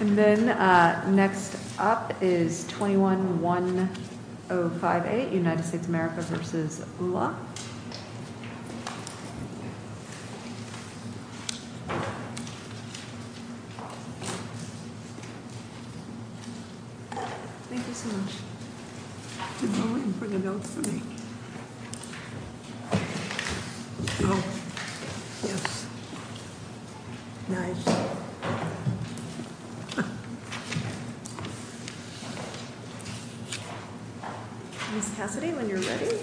And then next up is 21-1058 United States America v. Ullah Ms. Cassidy, when you're ready.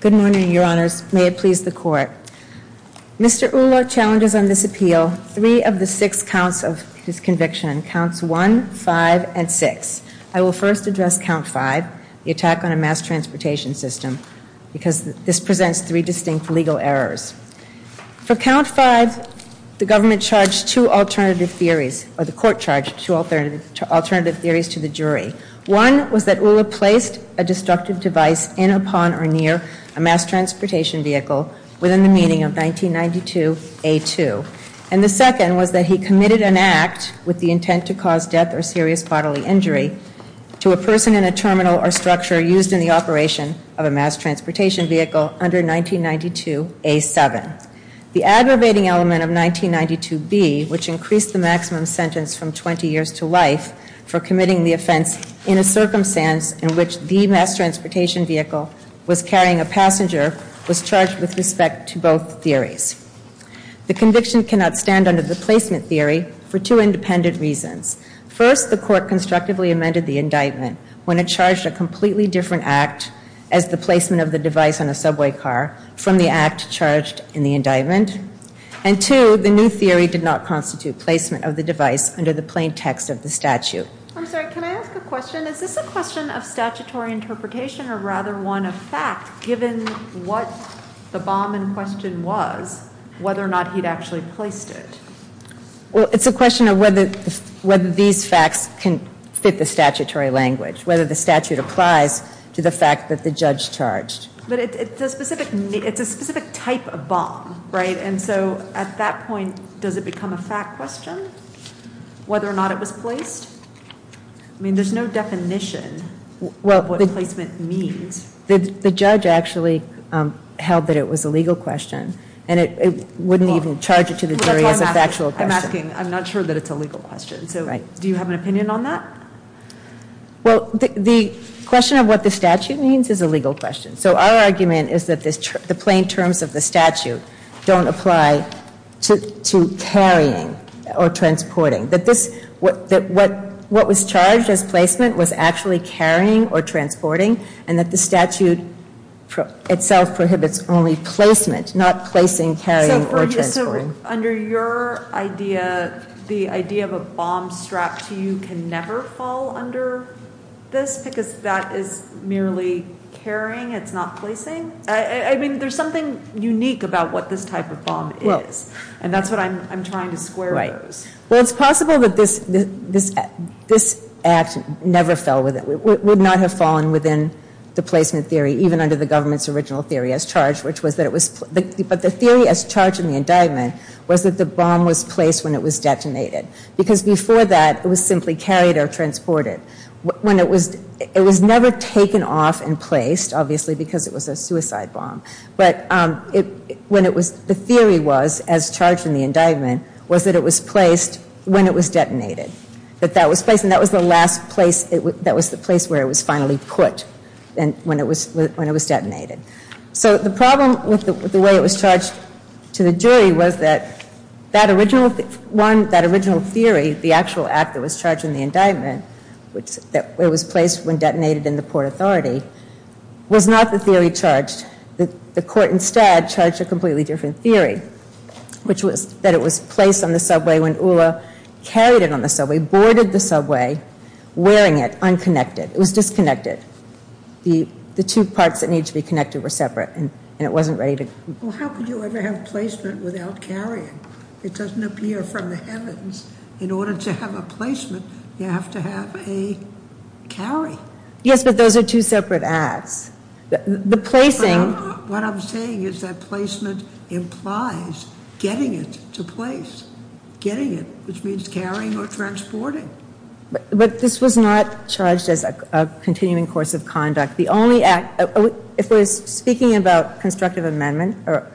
Good morning, Your Honors. May it please the Court. Mr. Ullah challenges on this appeal three of the six counts of his conviction, counts one, five, and six. I will first address count five, the attack on a mass transportation system, because this presents three distinct legal errors. For count five, the government charged two alternative theories, or the Court charged two alternative theories to the jury. One was that Ullah placed a destructive device in, upon, or near a mass transportation vehicle within the meaning of 1992A2. And the second was that he committed an act with the intent to cause death or serious bodily injury to a person in a terminal or structure used in the operation of a mass transportation vehicle under 1992A7. The aggravating element of 1992B, which increased the maximum sentence from 20 years to life for committing the offense in a circumstance in which the mass transportation vehicle was carrying a passenger, was charged with respect to both theories. The conviction cannot stand under the placement theory for two independent reasons. First, the Court constructively amended the indictment when it charged a completely different act as the placement of the device on a subway car from the act charged in the indictment. And two, the new theory did not constitute placement of the device under the plain text of the statute. I'm sorry, can I ask a question? Is this a question of statutory interpretation or rather one of fact, given what the bomb in question was, whether or not he'd actually placed it? Well, it's a question of whether these facts can fit the statutory language, whether the statute applies to the fact that the judge charged. But it's a specific type of bomb, right? And so at that point, does it become a fact question, whether or not it was placed? I mean, there's no definition of what placement means. The judge actually held that it was a legal question. And it wouldn't even charge it to the jury as a factual question. I'm asking, I'm not sure that it's a legal question. So do you have an opinion on that? Well, the question of what the statute means is a legal question. So our argument is that the plain terms of the statute don't apply to carrying or transporting. That what was charged as placement was actually carrying or transporting, and that the statute itself prohibits only placement, not placing, carrying, or transporting. So under your idea, the idea of a bomb strapped to you can never fall under this because that is merely carrying, it's not placing? I mean, there's something unique about what this type of bomb is. And that's what I'm trying to square those. Right. Well, it's possible that this act never fell within, would not have fallen within the placement theory, even under the government's original theory as charged, which was that it was, but the theory as charged in the indictment was that the bomb was placed when it was detonated. Because before that, it was simply carried or transported. When it was, it was never taken off and placed, obviously, because it was a suicide bomb. But when it was, the theory was, as charged in the indictment, was that it was placed when it was detonated. That that was placed, and that was the last place, that was the place where it was finally put when it was detonated. So the problem with the way it was charged to the jury was that that original, one, that original theory, the actual act that was charged in the indictment, it was placed when detonated in the Port Authority, was not the theory charged. The court instead charged a completely different theory, which was that it was placed on the subway when Ullah carried it on the subway, boarded the subway, wearing it, unconnected. It was disconnected. The two parts that need to be connected were separate, and it wasn't ready to go. Well, how could you ever have placement without carrying? It doesn't appear from the heavens. In order to have a placement, you have to have a carry. Yes, but those are two separate acts. The placing. What I'm saying is that placement implies getting it to place, getting it, which means carrying or transporting. But this was not charged as a continuing course of conduct. The only act, if we're speaking about constructive amendment, or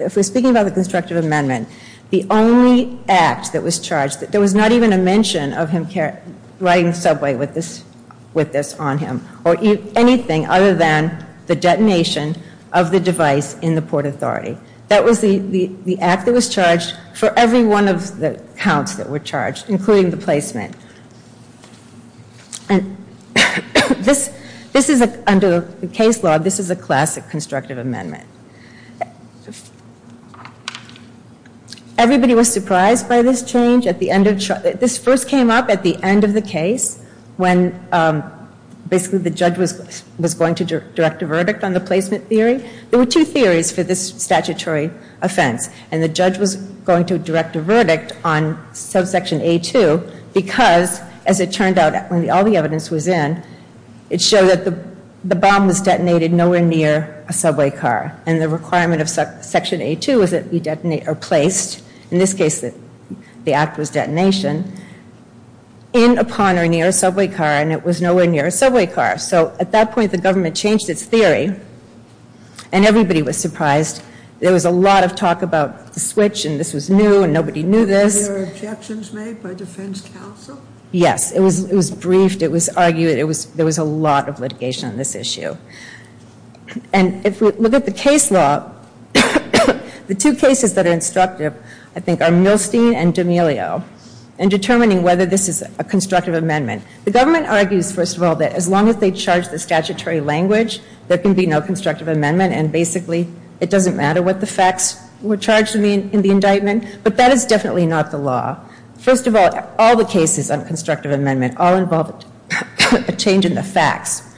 if we're speaking about the constructive amendment, the only act that was charged, there was not even a mention of him riding the subway with this on him, or anything other than the detonation of the device in the Port Authority. That was the act that was charged for every one of the counts that were charged, including the placement. And under the case law, this is a classic constructive amendment. Everybody was surprised by this change. This first came up at the end of the case, when basically the judge was going to direct a verdict on the placement theory. There were two theories for this statutory offense, and the judge was going to direct a verdict on subsection A2 because, as it turned out, when all the evidence was in, it showed that the bomb was detonated nowhere near a subway car. And the requirement of section A2 was that it be placed, in this case the act was detonation, in, upon, or near a subway car, and it was nowhere near a subway car. So at that point, the government changed its theory, and everybody was surprised. There was a lot of talk about the switch, and this was new, and nobody knew this. Were there objections made by defense counsel? Yes, it was briefed, it was argued, there was a lot of litigation on this issue. And if we look at the case law, the two cases that are instructive, I think, are Milstein and D'Amelio, in determining whether this is a constructive amendment. The government argues, first of all, that as long as they charge the statutory language, there can be no constructive amendment, and basically it doesn't matter what the facts were charged in the indictment. But that is definitely not the law. First of all, all the cases on constructive amendment all involve a change in the facts,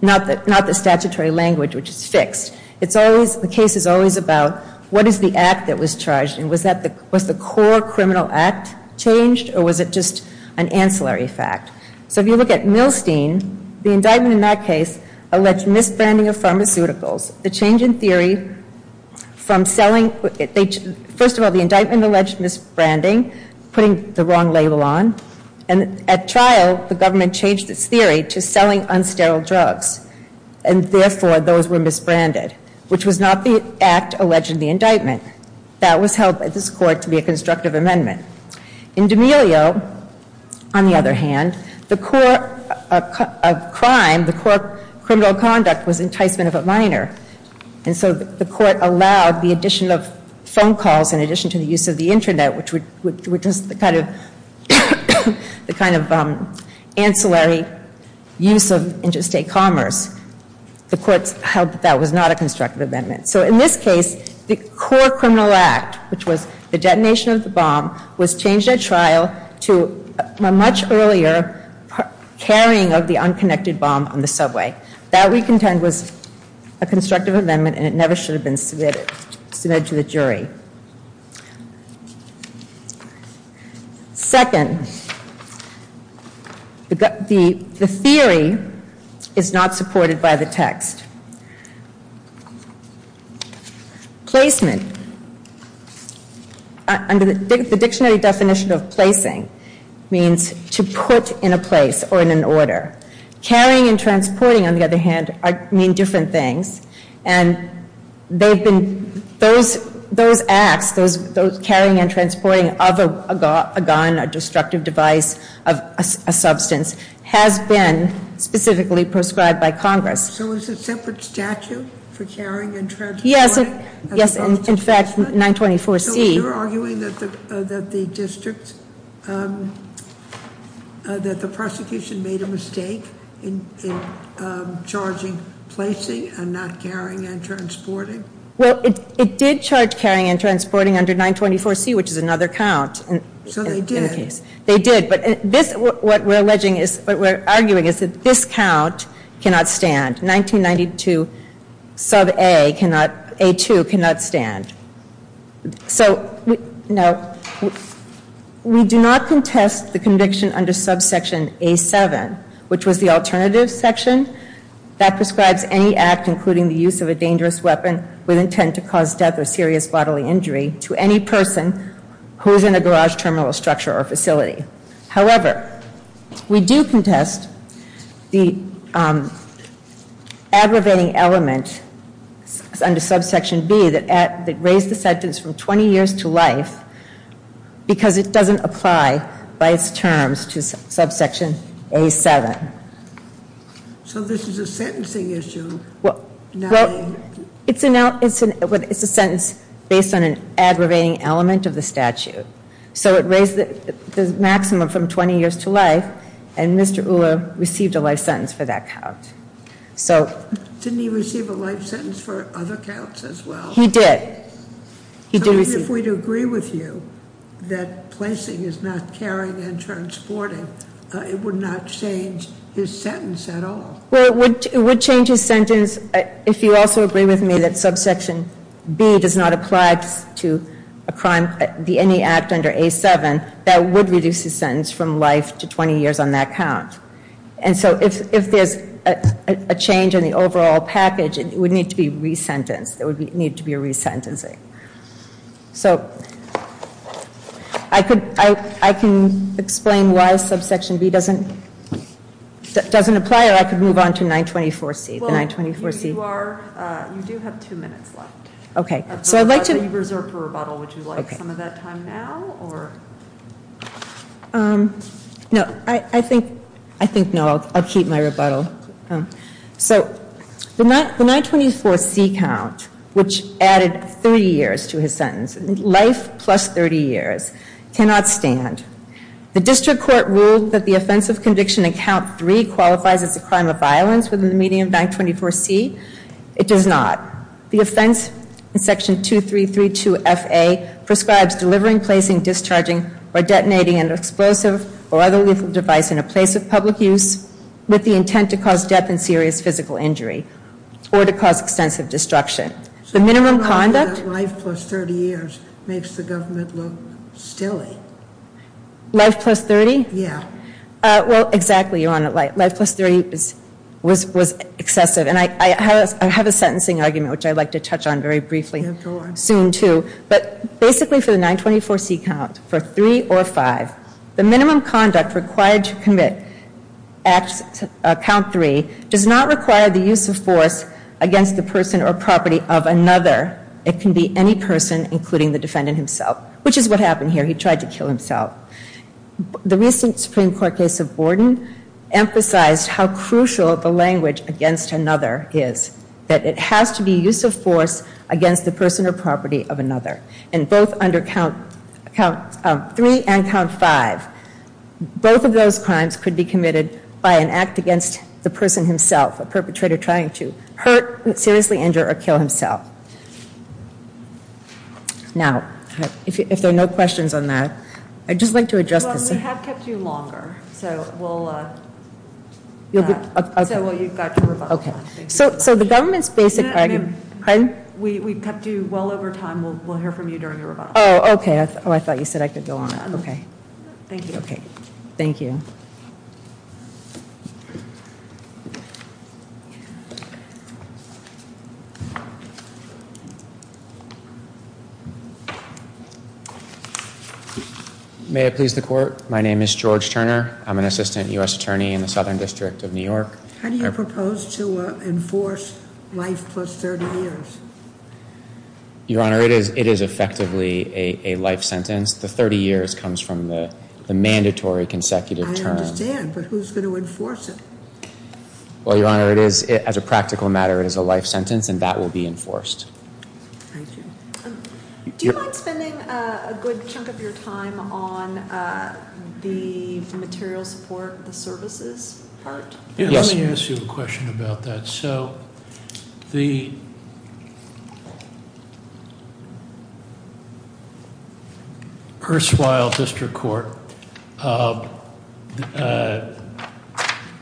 not the statutory language, which is fixed. It's always, the case is always about what is the act that was charged, and was the core criminal act changed, or was it just an ancillary fact? So if you look at Milstein, the indictment in that case alleged misbranding of pharmaceuticals. The change in theory from selling, first of all, the indictment alleged misbranding, putting the wrong label on, and at trial, the government changed its theory to selling unsterile drugs, and therefore those were misbranded, which was not the act alleged in the indictment. That was held by this court to be a constructive amendment. In D'Amelio, on the other hand, the core of crime, the core criminal conduct was enticement of a minor, and so the court allowed the addition of phone calls in addition to the use of the Internet, which was the kind of ancillary use of interstate commerce. The courts held that that was not a constructive amendment. So in this case, the core criminal act, which was the detonation of the bomb, was changed at trial to a much earlier carrying of the unconnected bomb on the subway. That, we contend, was a constructive amendment, and it never should have been submitted to the jury. Second, the theory is not supported by the text. Placement, under the dictionary definition of placing means to put in a place or in an order. Carrying and transporting, on the other hand, mean different things, and those acts, those carrying and transporting of a gun, a destructive device, a substance, has been specifically prescribed by Congress. So is it separate statute for carrying and transporting? Yes, in fact, 924C. So you're arguing that the prosecution made a mistake in charging placing and not carrying and transporting? Well, it did charge carrying and transporting under 924C, which is another count in the case. So they did? They did, but what we're arguing is that this count cannot stand. 1992 sub A cannot, A2 cannot stand. So, now, we do not contest the conviction under subsection A7, which was the alternative section, that prescribes any act including the use of a dangerous weapon with intent to cause death or serious bodily injury to any person who is in a garage terminal structure or facility. However, we do contest the aggravating element under subsection B that raised the sentence from 20 years to life because it doesn't apply by its terms to subsection A7. So this is a sentencing issue now? Well, it's a sentence based on an aggravating element of the statute. So it raised the maximum from 20 years to life, and Mr. Ulla received a life sentence for that count. Didn't he receive a life sentence for other counts as well? He did. If we'd agree with you that placing is not carrying and transporting, it would not change his sentence at all. Well, it would change his sentence if you also agree with me that subsection B does not apply to a crime, any act under A7 that would reduce his sentence from life to 20 years on that count. And so if there's a change in the overall package, it would need to be resentenced. There would need to be a resentencing. So I can explain why subsection B doesn't apply, or I could move on to 924C. Well, you do have two minutes left. Okay. So I'd like to reserve a rebuttal. Would you like some of that time now? No, I think no. I'll keep my rebuttal. So the 924C count, which added 30 years to his sentence, life plus 30 years, cannot stand. The district court ruled that the offense of conviction in count three qualifies as a crime of violence within the median of 924C. It does not. The offense in section 2332FA prescribes delivering, placing, discharging, or detonating an explosive or other lethal device in a place of public use with the intent to cause death and serious physical injury or to cause extensive destruction. The minimum conduct- Life plus 30 years makes the government look silly. Life plus 30? Yeah. Well, exactly, Your Honor. Life plus 30 was excessive. And I have a sentencing argument, which I'd like to touch on very briefly soon, too. But basically for the 924C count, for three or five, the minimum conduct required to commit count three does not require the use of force against the person or property of another. It can be any person, including the defendant himself, which is what happened here. He tried to kill himself. The recent Supreme Court case of Borden emphasized how crucial the language against another is, that it has to be use of force against the person or property of another. And both under count three and count five, both of those crimes could be committed by an act against the person himself, a perpetrator trying to hurt, seriously injure, or kill himself. Now, if there are no questions on that, I'd just like to address this. Well, we have kept you longer, so we'll- You'll be- You've got your rebuttal. Okay. So the government's basic argument- We've kept you well over time. We'll hear from you during your rebuttal. Oh, okay. Oh, I thought you said I could go on. Okay. Thank you. Okay. Thank you. May I please the court? My name is George Turner. I'm an assistant U.S. attorney in the Southern District of New York. How do you propose to enforce life plus 30 years? Your Honor, it is effectively a life sentence. The 30 years comes from the mandatory consecutive term. I understand, but who's going to enforce it? Well, Your Honor, as a practical matter, it is a life sentence, and that will be enforced. Thank you. Do you mind spending a good chunk of your time on the material support, the services part? Yes. Let me ask you a question about that. So the erstwhile district court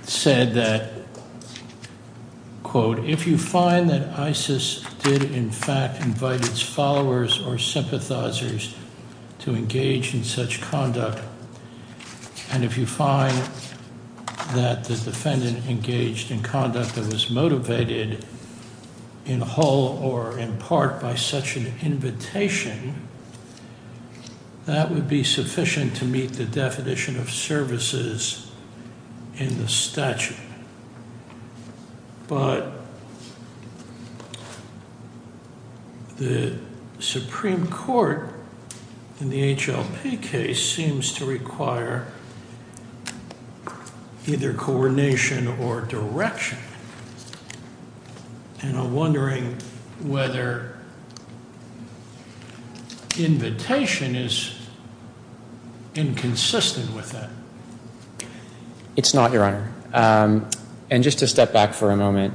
said that, quote, And if you find that the defendant engaged in conduct that was motivated in whole or in part by such an invitation, that would be sufficient to meet the definition of services in the statute. But the Supreme Court in the HLP case seems to require either coordination or direction. And I'm wondering whether invitation is inconsistent with that. It's not, Your Honor. And just to step back for a moment,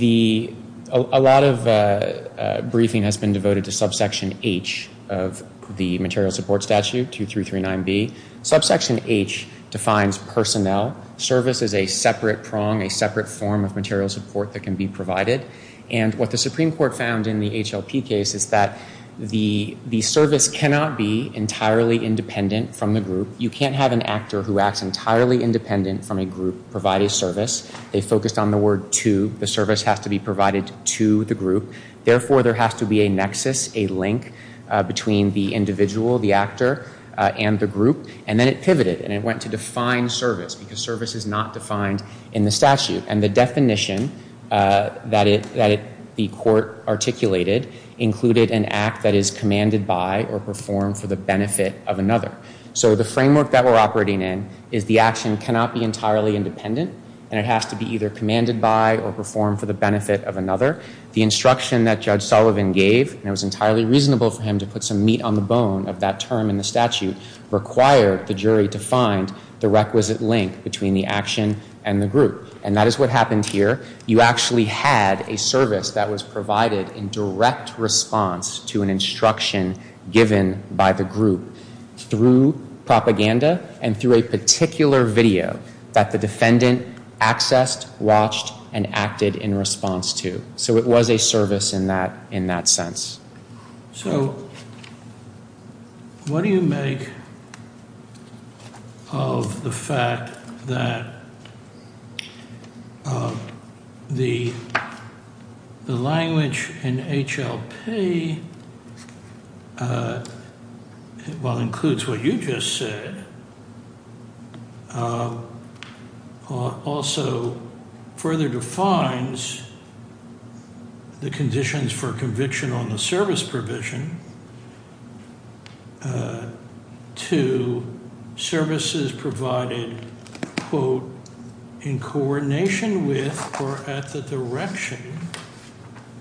a lot of briefing has been devoted to subsection H of the material support statute, 2339B. Subsection H defines personnel. Service is a separate prong, a separate form of material support that can be provided. And what the Supreme Court found in the HLP case is that the service cannot be entirely independent from the group. You can't have an actor who acts entirely independent from a group provide a service. They focused on the word to. The service has to be provided to the group. Therefore, there has to be a nexus, a link between the individual, the actor, and the group. And then it pivoted, and it went to define service because service is not defined in the statute. And the definition that the court articulated included an act that is commanded by or performed for the benefit of another. So the framework that we're operating in is the action cannot be entirely independent, and it has to be either commanded by or performed for the benefit of another. The instruction that Judge Sullivan gave, and it was entirely reasonable for him to put some meat on the bone of that term in the statute, required the jury to find the requisite link between the action and the group. And that is what happened here. You actually had a service that was provided in direct response to an instruction given by the group through propaganda and through a particular video that the defendant accessed, watched, and acted in response to. So it was a service in that sense. So what do you make of the fact that the language in HLP, while it includes what you just said, also further defines the conditions for conviction on the service provision to services provided, quote, in coordination with or at the direction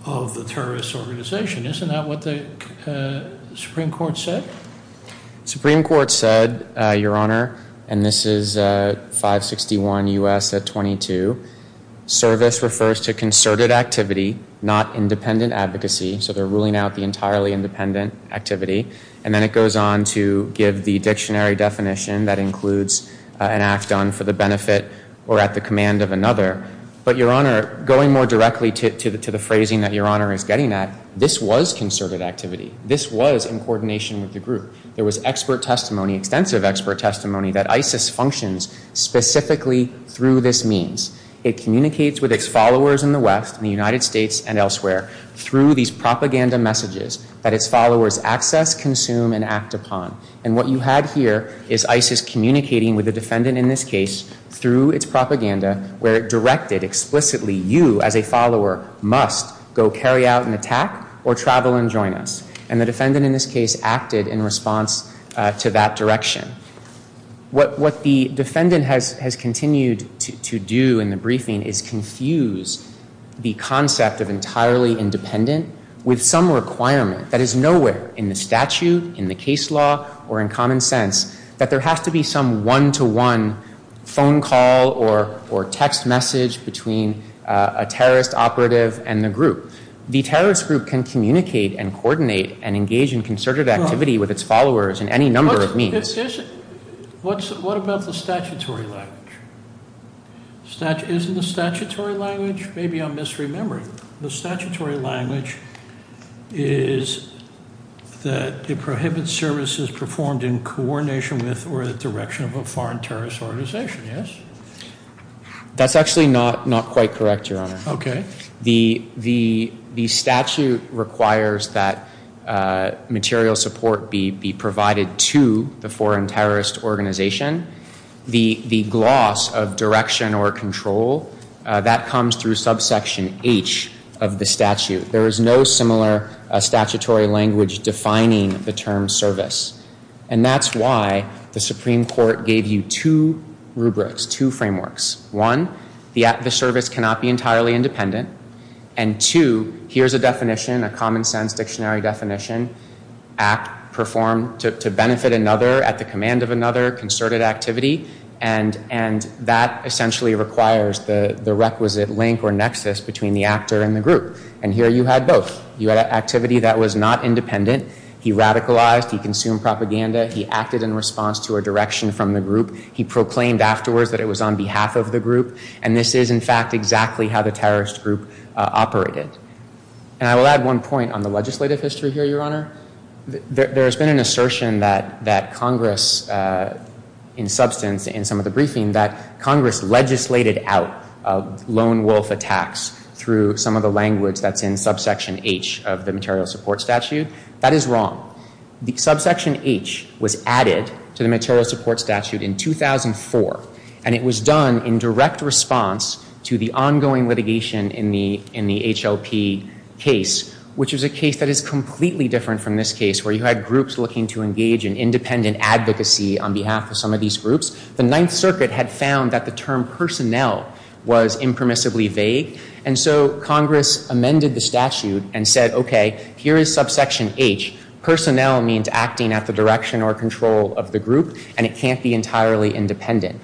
of the terrorist organization? Isn't that what the Supreme Court said? Supreme Court said, Your Honor, and this is 561 U.S. 22, service refers to concerted activity, not independent advocacy. So they're ruling out the entirely independent activity. And then it goes on to give the dictionary definition that includes an act done for the benefit or at the command of another. But, Your Honor, going more directly to the phrasing that Your Honor is getting at, this was concerted activity. This was in coordination with the group. There was expert testimony, extensive expert testimony that ISIS functions specifically through this means. It communicates with its followers in the West, in the United States and elsewhere, through these propaganda messages that its followers access, consume, and act upon. And what you had here is ISIS communicating with the defendant in this case through its propaganda where it directed explicitly you as a follower must go carry out an attack or travel and join us. And the defendant in this case acted in response to that direction. What the defendant has continued to do in the briefing is confuse the concept of entirely independent with some requirement that is nowhere in the statute, in the case law, or in common sense, that there has to be some one-to-one phone call or text message between a terrorist operative and the group. The terrorist group can communicate and coordinate and engage in concerted activity with its followers in any number of means. What about the statutory language? Isn't the statutory language? Maybe I'm misremembering. The statutory language is that it prohibits services performed in coordination with or the direction of a foreign terrorist organization, yes? That's actually not quite correct, Your Honor. Okay. The statute requires that material support be provided to the foreign terrorist organization. The gloss of direction or control, that comes through subsection H of the statute. There is no similar statutory language defining the term service. And that's why the Supreme Court gave you two rubrics, two frameworks. One, the service cannot be entirely independent. And two, here's a definition, a common sense dictionary definition. Act performed to benefit another, at the command of another, concerted activity. And that essentially requires the requisite link or nexus between the actor and the group. And here you had both. You had activity that was not independent. He radicalized. He consumed propaganda. He acted in response to a direction from the group. He proclaimed afterwards that it was on behalf of the group. And this is, in fact, exactly how the terrorist group operated. And I will add one point on the legislative history here, Your Honor. There has been an assertion that Congress, in substance, in some of the briefing, that Congress legislated out lone wolf attacks through some of the language that's in subsection H of the material support statute. That is wrong. The subsection H was added to the material support statute in 2004. And it was done in direct response to the ongoing litigation in the HLP case, which is a case that is completely different from this case, where you had groups looking to engage in independent advocacy on behalf of some of these groups. The Ninth Circuit had found that the term personnel was impermissibly vague. And so Congress amended the statute and said, okay, here is subsection H. Personnel means acting at the direction or control of the group, and it can't be entirely independent.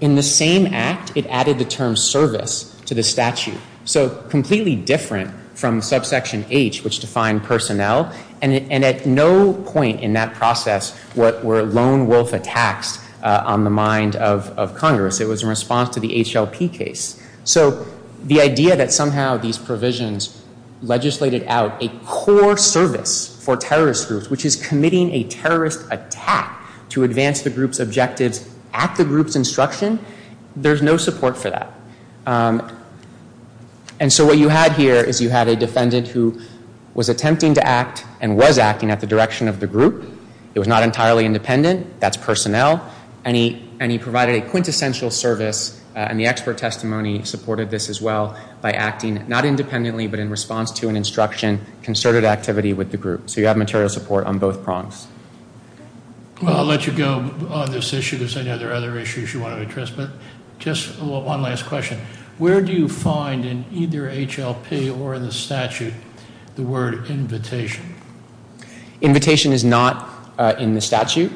In the same act, it added the term service to the statute. So completely different from subsection H, which defined personnel. And at no point in that process were lone wolf attacks on the mind of Congress. It was in response to the HLP case. So the idea that somehow these provisions legislated out a core service for terrorist groups, which is committing a terrorist attack to advance the group's objectives at the group's instruction, there's no support for that. And so what you had here is you had a defendant who was attempting to act and was acting at the direction of the group. It was not entirely independent. That's personnel. And he provided a quintessential service. And the expert testimony supported this as well by acting not independently but in response to an instruction concerted activity with the group. So you have material support on both prongs. Well, I'll let you go on this issue because I know there are other issues you want to address. But just one last question. Where do you find in either HLP or in the statute the word invitation? Invitation is not in the statute.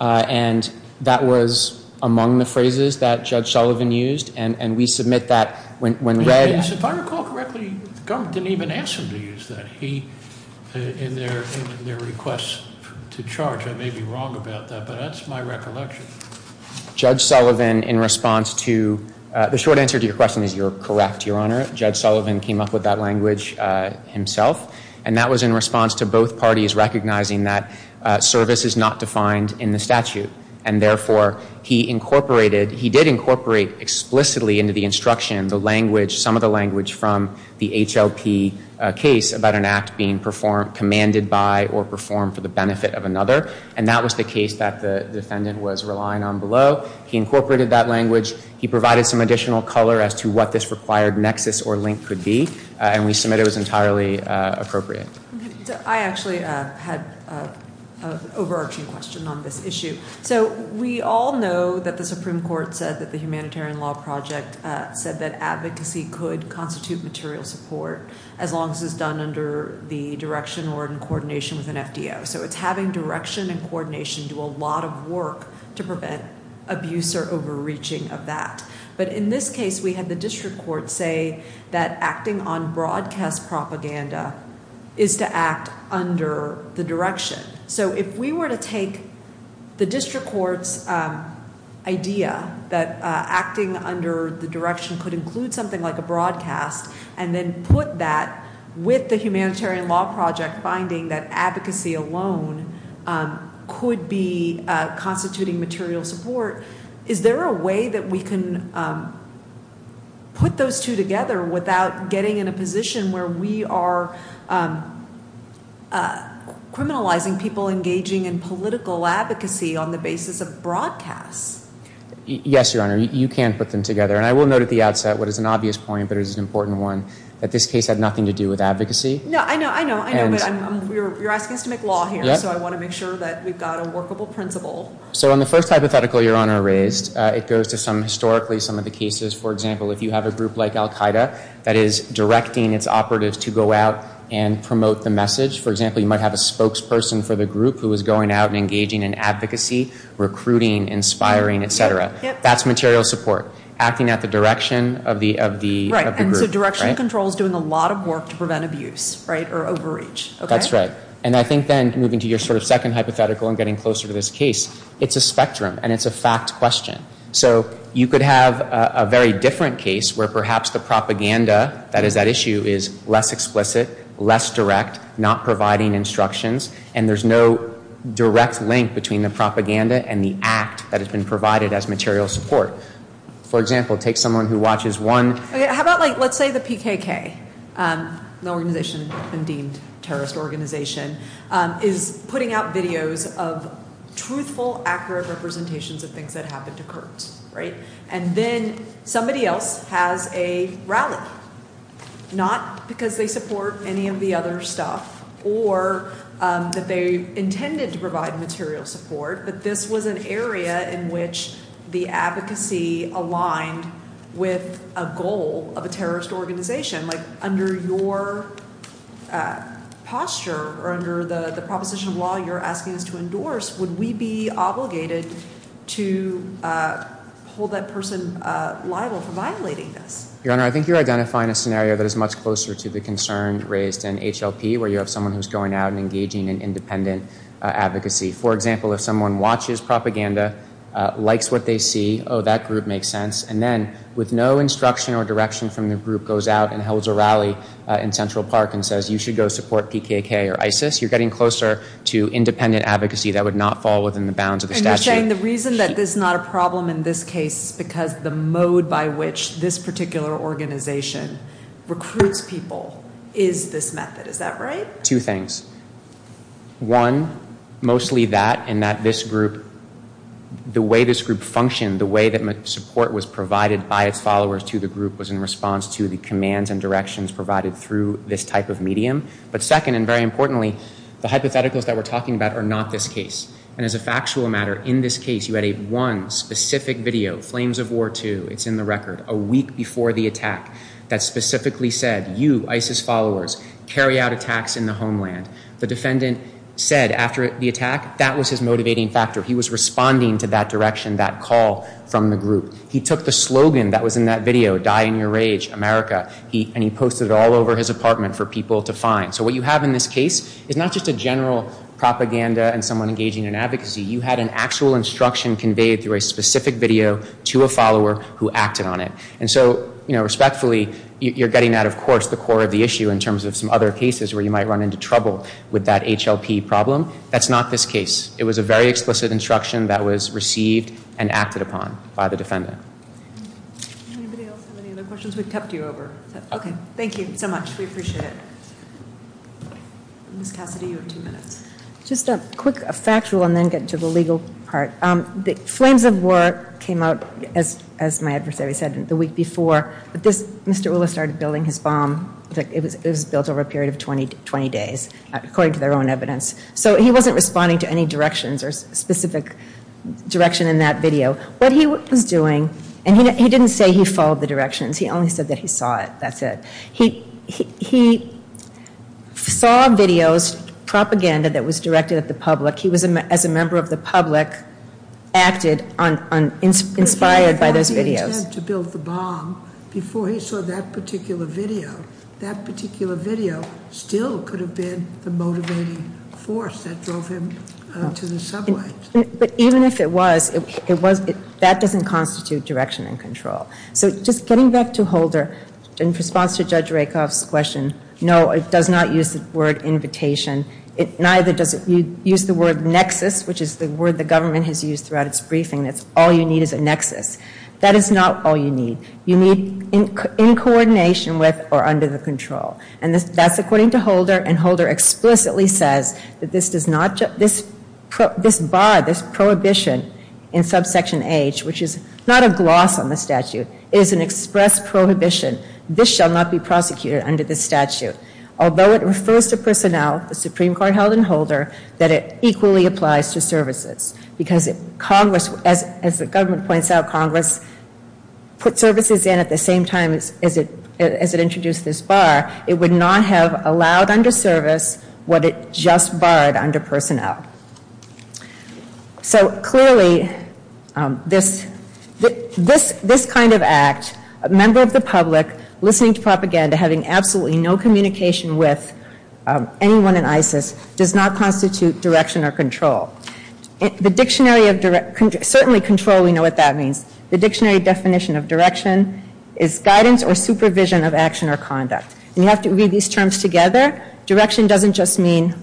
And that was among the phrases that Judge Sullivan used, and we submit that when read. If I recall correctly, the government didn't even ask him to use that in their request to charge. I may be wrong about that, but that's my recollection. Judge Sullivan, in response to the short answer to your question is you're correct, Your Honor. Judge Sullivan came up with that language himself, and that was in response to both parties recognizing that service is not defined in the statute. And therefore, he incorporated, he did incorporate explicitly into the instruction the language, some of the language from the HLP case about an act being commanded by or performed for the benefit of another. And that was the case that the defendant was relying on below. He incorporated that language. He provided some additional color as to what this required nexus or link could be. And we submit it was entirely appropriate. I actually had an overarching question on this issue. So we all know that the Supreme Court said that the Humanitarian Law Project said that advocacy could constitute material support as long as it's done under the direction or in coordination with an FDO. So it's having direction and coordination do a lot of work to prevent abuse or overreaching of that. But in this case, we had the district court say that acting on broadcast propaganda is to act under the direction. So if we were to take the district court's idea that acting under the direction could include something like a broadcast and then put that with the Humanitarian Law Project finding that advocacy alone could be constituting material support, is there a way that we can put those two together without getting in a position where we are criminalizing people engaging in political advocacy on the basis of broadcasts? Yes, Your Honor. You can put them together. And I will note at the outset what is an obvious point but is an important one, that this case had nothing to do with advocacy. No, I know. I know. I know. But you're asking us to make law here. So I want to make sure that we've got a workable principle. So on the first hypothetical Your Honor raised, it goes to historically some of the cases. For example, if you have a group like Al-Qaeda that is directing its operatives to go out and promote the message, for example, you might have a spokesperson for the group who is going out and engaging in advocacy, recruiting, inspiring, et cetera. That's material support, acting at the direction of the group. Right. And so direction control is doing a lot of work to prevent abuse or overreach. That's right. And I think then, moving to your sort of second hypothetical and getting closer to this case, it's a spectrum and it's a fact question. So you could have a very different case where perhaps the propaganda, that is that issue, is less explicit, less direct, not providing instructions, and there's no direct link between the propaganda and the act that has been provided as material support. For example, take someone who watches one. How about, like, let's say the PKK, an organization, a deemed terrorist organization, is putting out videos of truthful, accurate representations of things that happened to Kurds. Right. And then somebody else has a rally, not because they support any of the other stuff or that they intended to provide material support, but this was an area in which the advocacy aligned with a goal of a terrorist organization. Like, under your posture or under the proposition of law you're asking us to endorse, would we be obligated to hold that person liable for violating this? Your Honor, I think you're identifying a scenario that is much closer to the concern raised in HLP, where you have someone who's going out and engaging in independent advocacy. For example, if someone watches propaganda, likes what they see, oh, that group makes sense, and then with no instruction or direction from the group goes out and holds a rally in Central Park and says you should go support PKK or ISIS, you're getting closer to independent advocacy that would not fall within the bounds of the statute. And you're saying the reason that this is not a problem in this case is because the mode by which this particular organization recruits people is this method. Is that right? Two things. One, mostly that and that this group, the way this group functioned, the way that support was provided by its followers to the group was in response to the commands and directions provided through this type of medium. But second, and very importantly, the hypotheticals that we're talking about are not this case. And as a factual matter, in this case you had a one specific video, Flames of War II, it's in the record, a week before the attack that specifically said, you, ISIS followers, carry out attacks in the homeland. The defendant said after the attack, that was his motivating factor. He was responding to that direction, that call from the group. He took the slogan that was in that video, Die in Your Rage, America, and he posted it all over his apartment for people to find. So what you have in this case is not just a general propaganda and someone engaging in advocacy, you had an actual instruction conveyed through a specific video to a follower who acted on it. And so, respectfully, you're getting at, of course, the core of the issue in terms of some other cases where you might run into trouble with that HLP problem. That's not this case. It was a very explicit instruction that was received and acted upon by the defendant. Anybody else have any other questions? We've kept you over. Okay, thank you so much. We appreciate it. Ms. Cassidy, you have two minutes. Just a quick factual and then get to the legal part. Flames of War came out, as my adversary said, the week before. Mr. Ulla started building his bomb. It was built over a period of 20 days, according to their own evidence. So he wasn't responding to any directions or specific direction in that video. What he was doing, and he didn't say he followed the directions. He only said that he saw it. That's it. He saw videos, propaganda that was directed at the public. He was, as a member of the public, acted inspired by those videos. If he had the intent to build the bomb before he saw that particular video, that particular video still could have been the motivating force that drove him to the subway. But even if it was, that doesn't constitute direction and control. So just getting back to Holder, in response to Judge Rakoff's question, no, it does not use the word invitation. It neither does it use the word nexus, which is the word the government has used throughout its briefing. That's all you need is a nexus. That is not all you need. You need in coordination with or under the control. And that's according to Holder. And Holder explicitly says that this bar, this prohibition in subsection H, which is not a gloss on the statute, is an express prohibition. This shall not be prosecuted under this statute. Although it refers to personnel, the Supreme Court held in Holder, that it equally applies to services. Because if Congress, as the government points out, Congress put services in at the same time as it introduced this bar, it would not have allowed under service what it just barred under personnel. So clearly, this kind of act, a member of the public listening to propaganda, having absolutely no communication with anyone in ISIS, does not constitute direction or control. The dictionary of, certainly control, we know what that means. The dictionary definition of direction is guidance or supervision of action or conduct. And you have to read these terms together. Direction doesn't just mean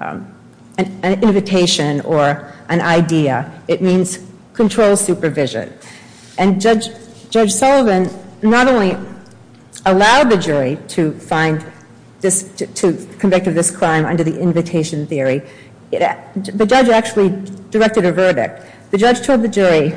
an invitation or an idea. It means control supervision. And Judge Sullivan not only allowed the jury to find this, to convict of this crime under the invitation theory, the judge actually directed a verdict. The judge told the jury,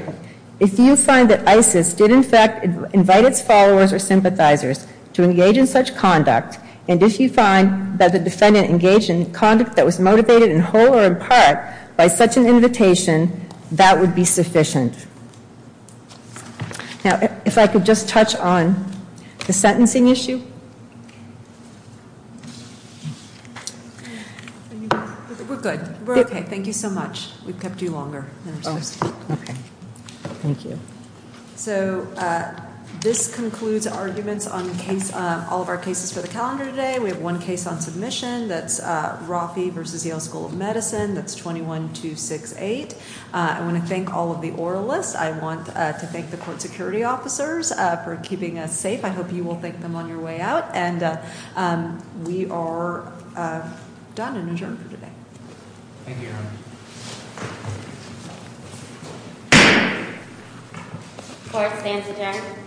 if you find that ISIS did in fact invite its followers or sympathizers to engage in such conduct, and if you find that the defendant engaged in conduct that was motivated in whole or in part by such an invitation, that would be sufficient. Now, if I could just touch on the sentencing issue. We're good. We're okay. Thank you so much. We've kept you longer than we're supposed to. Okay. Thank you. So this concludes arguments on all of our cases for the calendar today. We have one case on submission. That's Rafi versus Yale School of Medicine. That's 21-268. I want to thank all of the oralists. I want to thank the court security officers for keeping us safe. I hope you will thank them on your way out. And we are done and adjourned for today. Thank you, Your Honor. Court stands adjourned.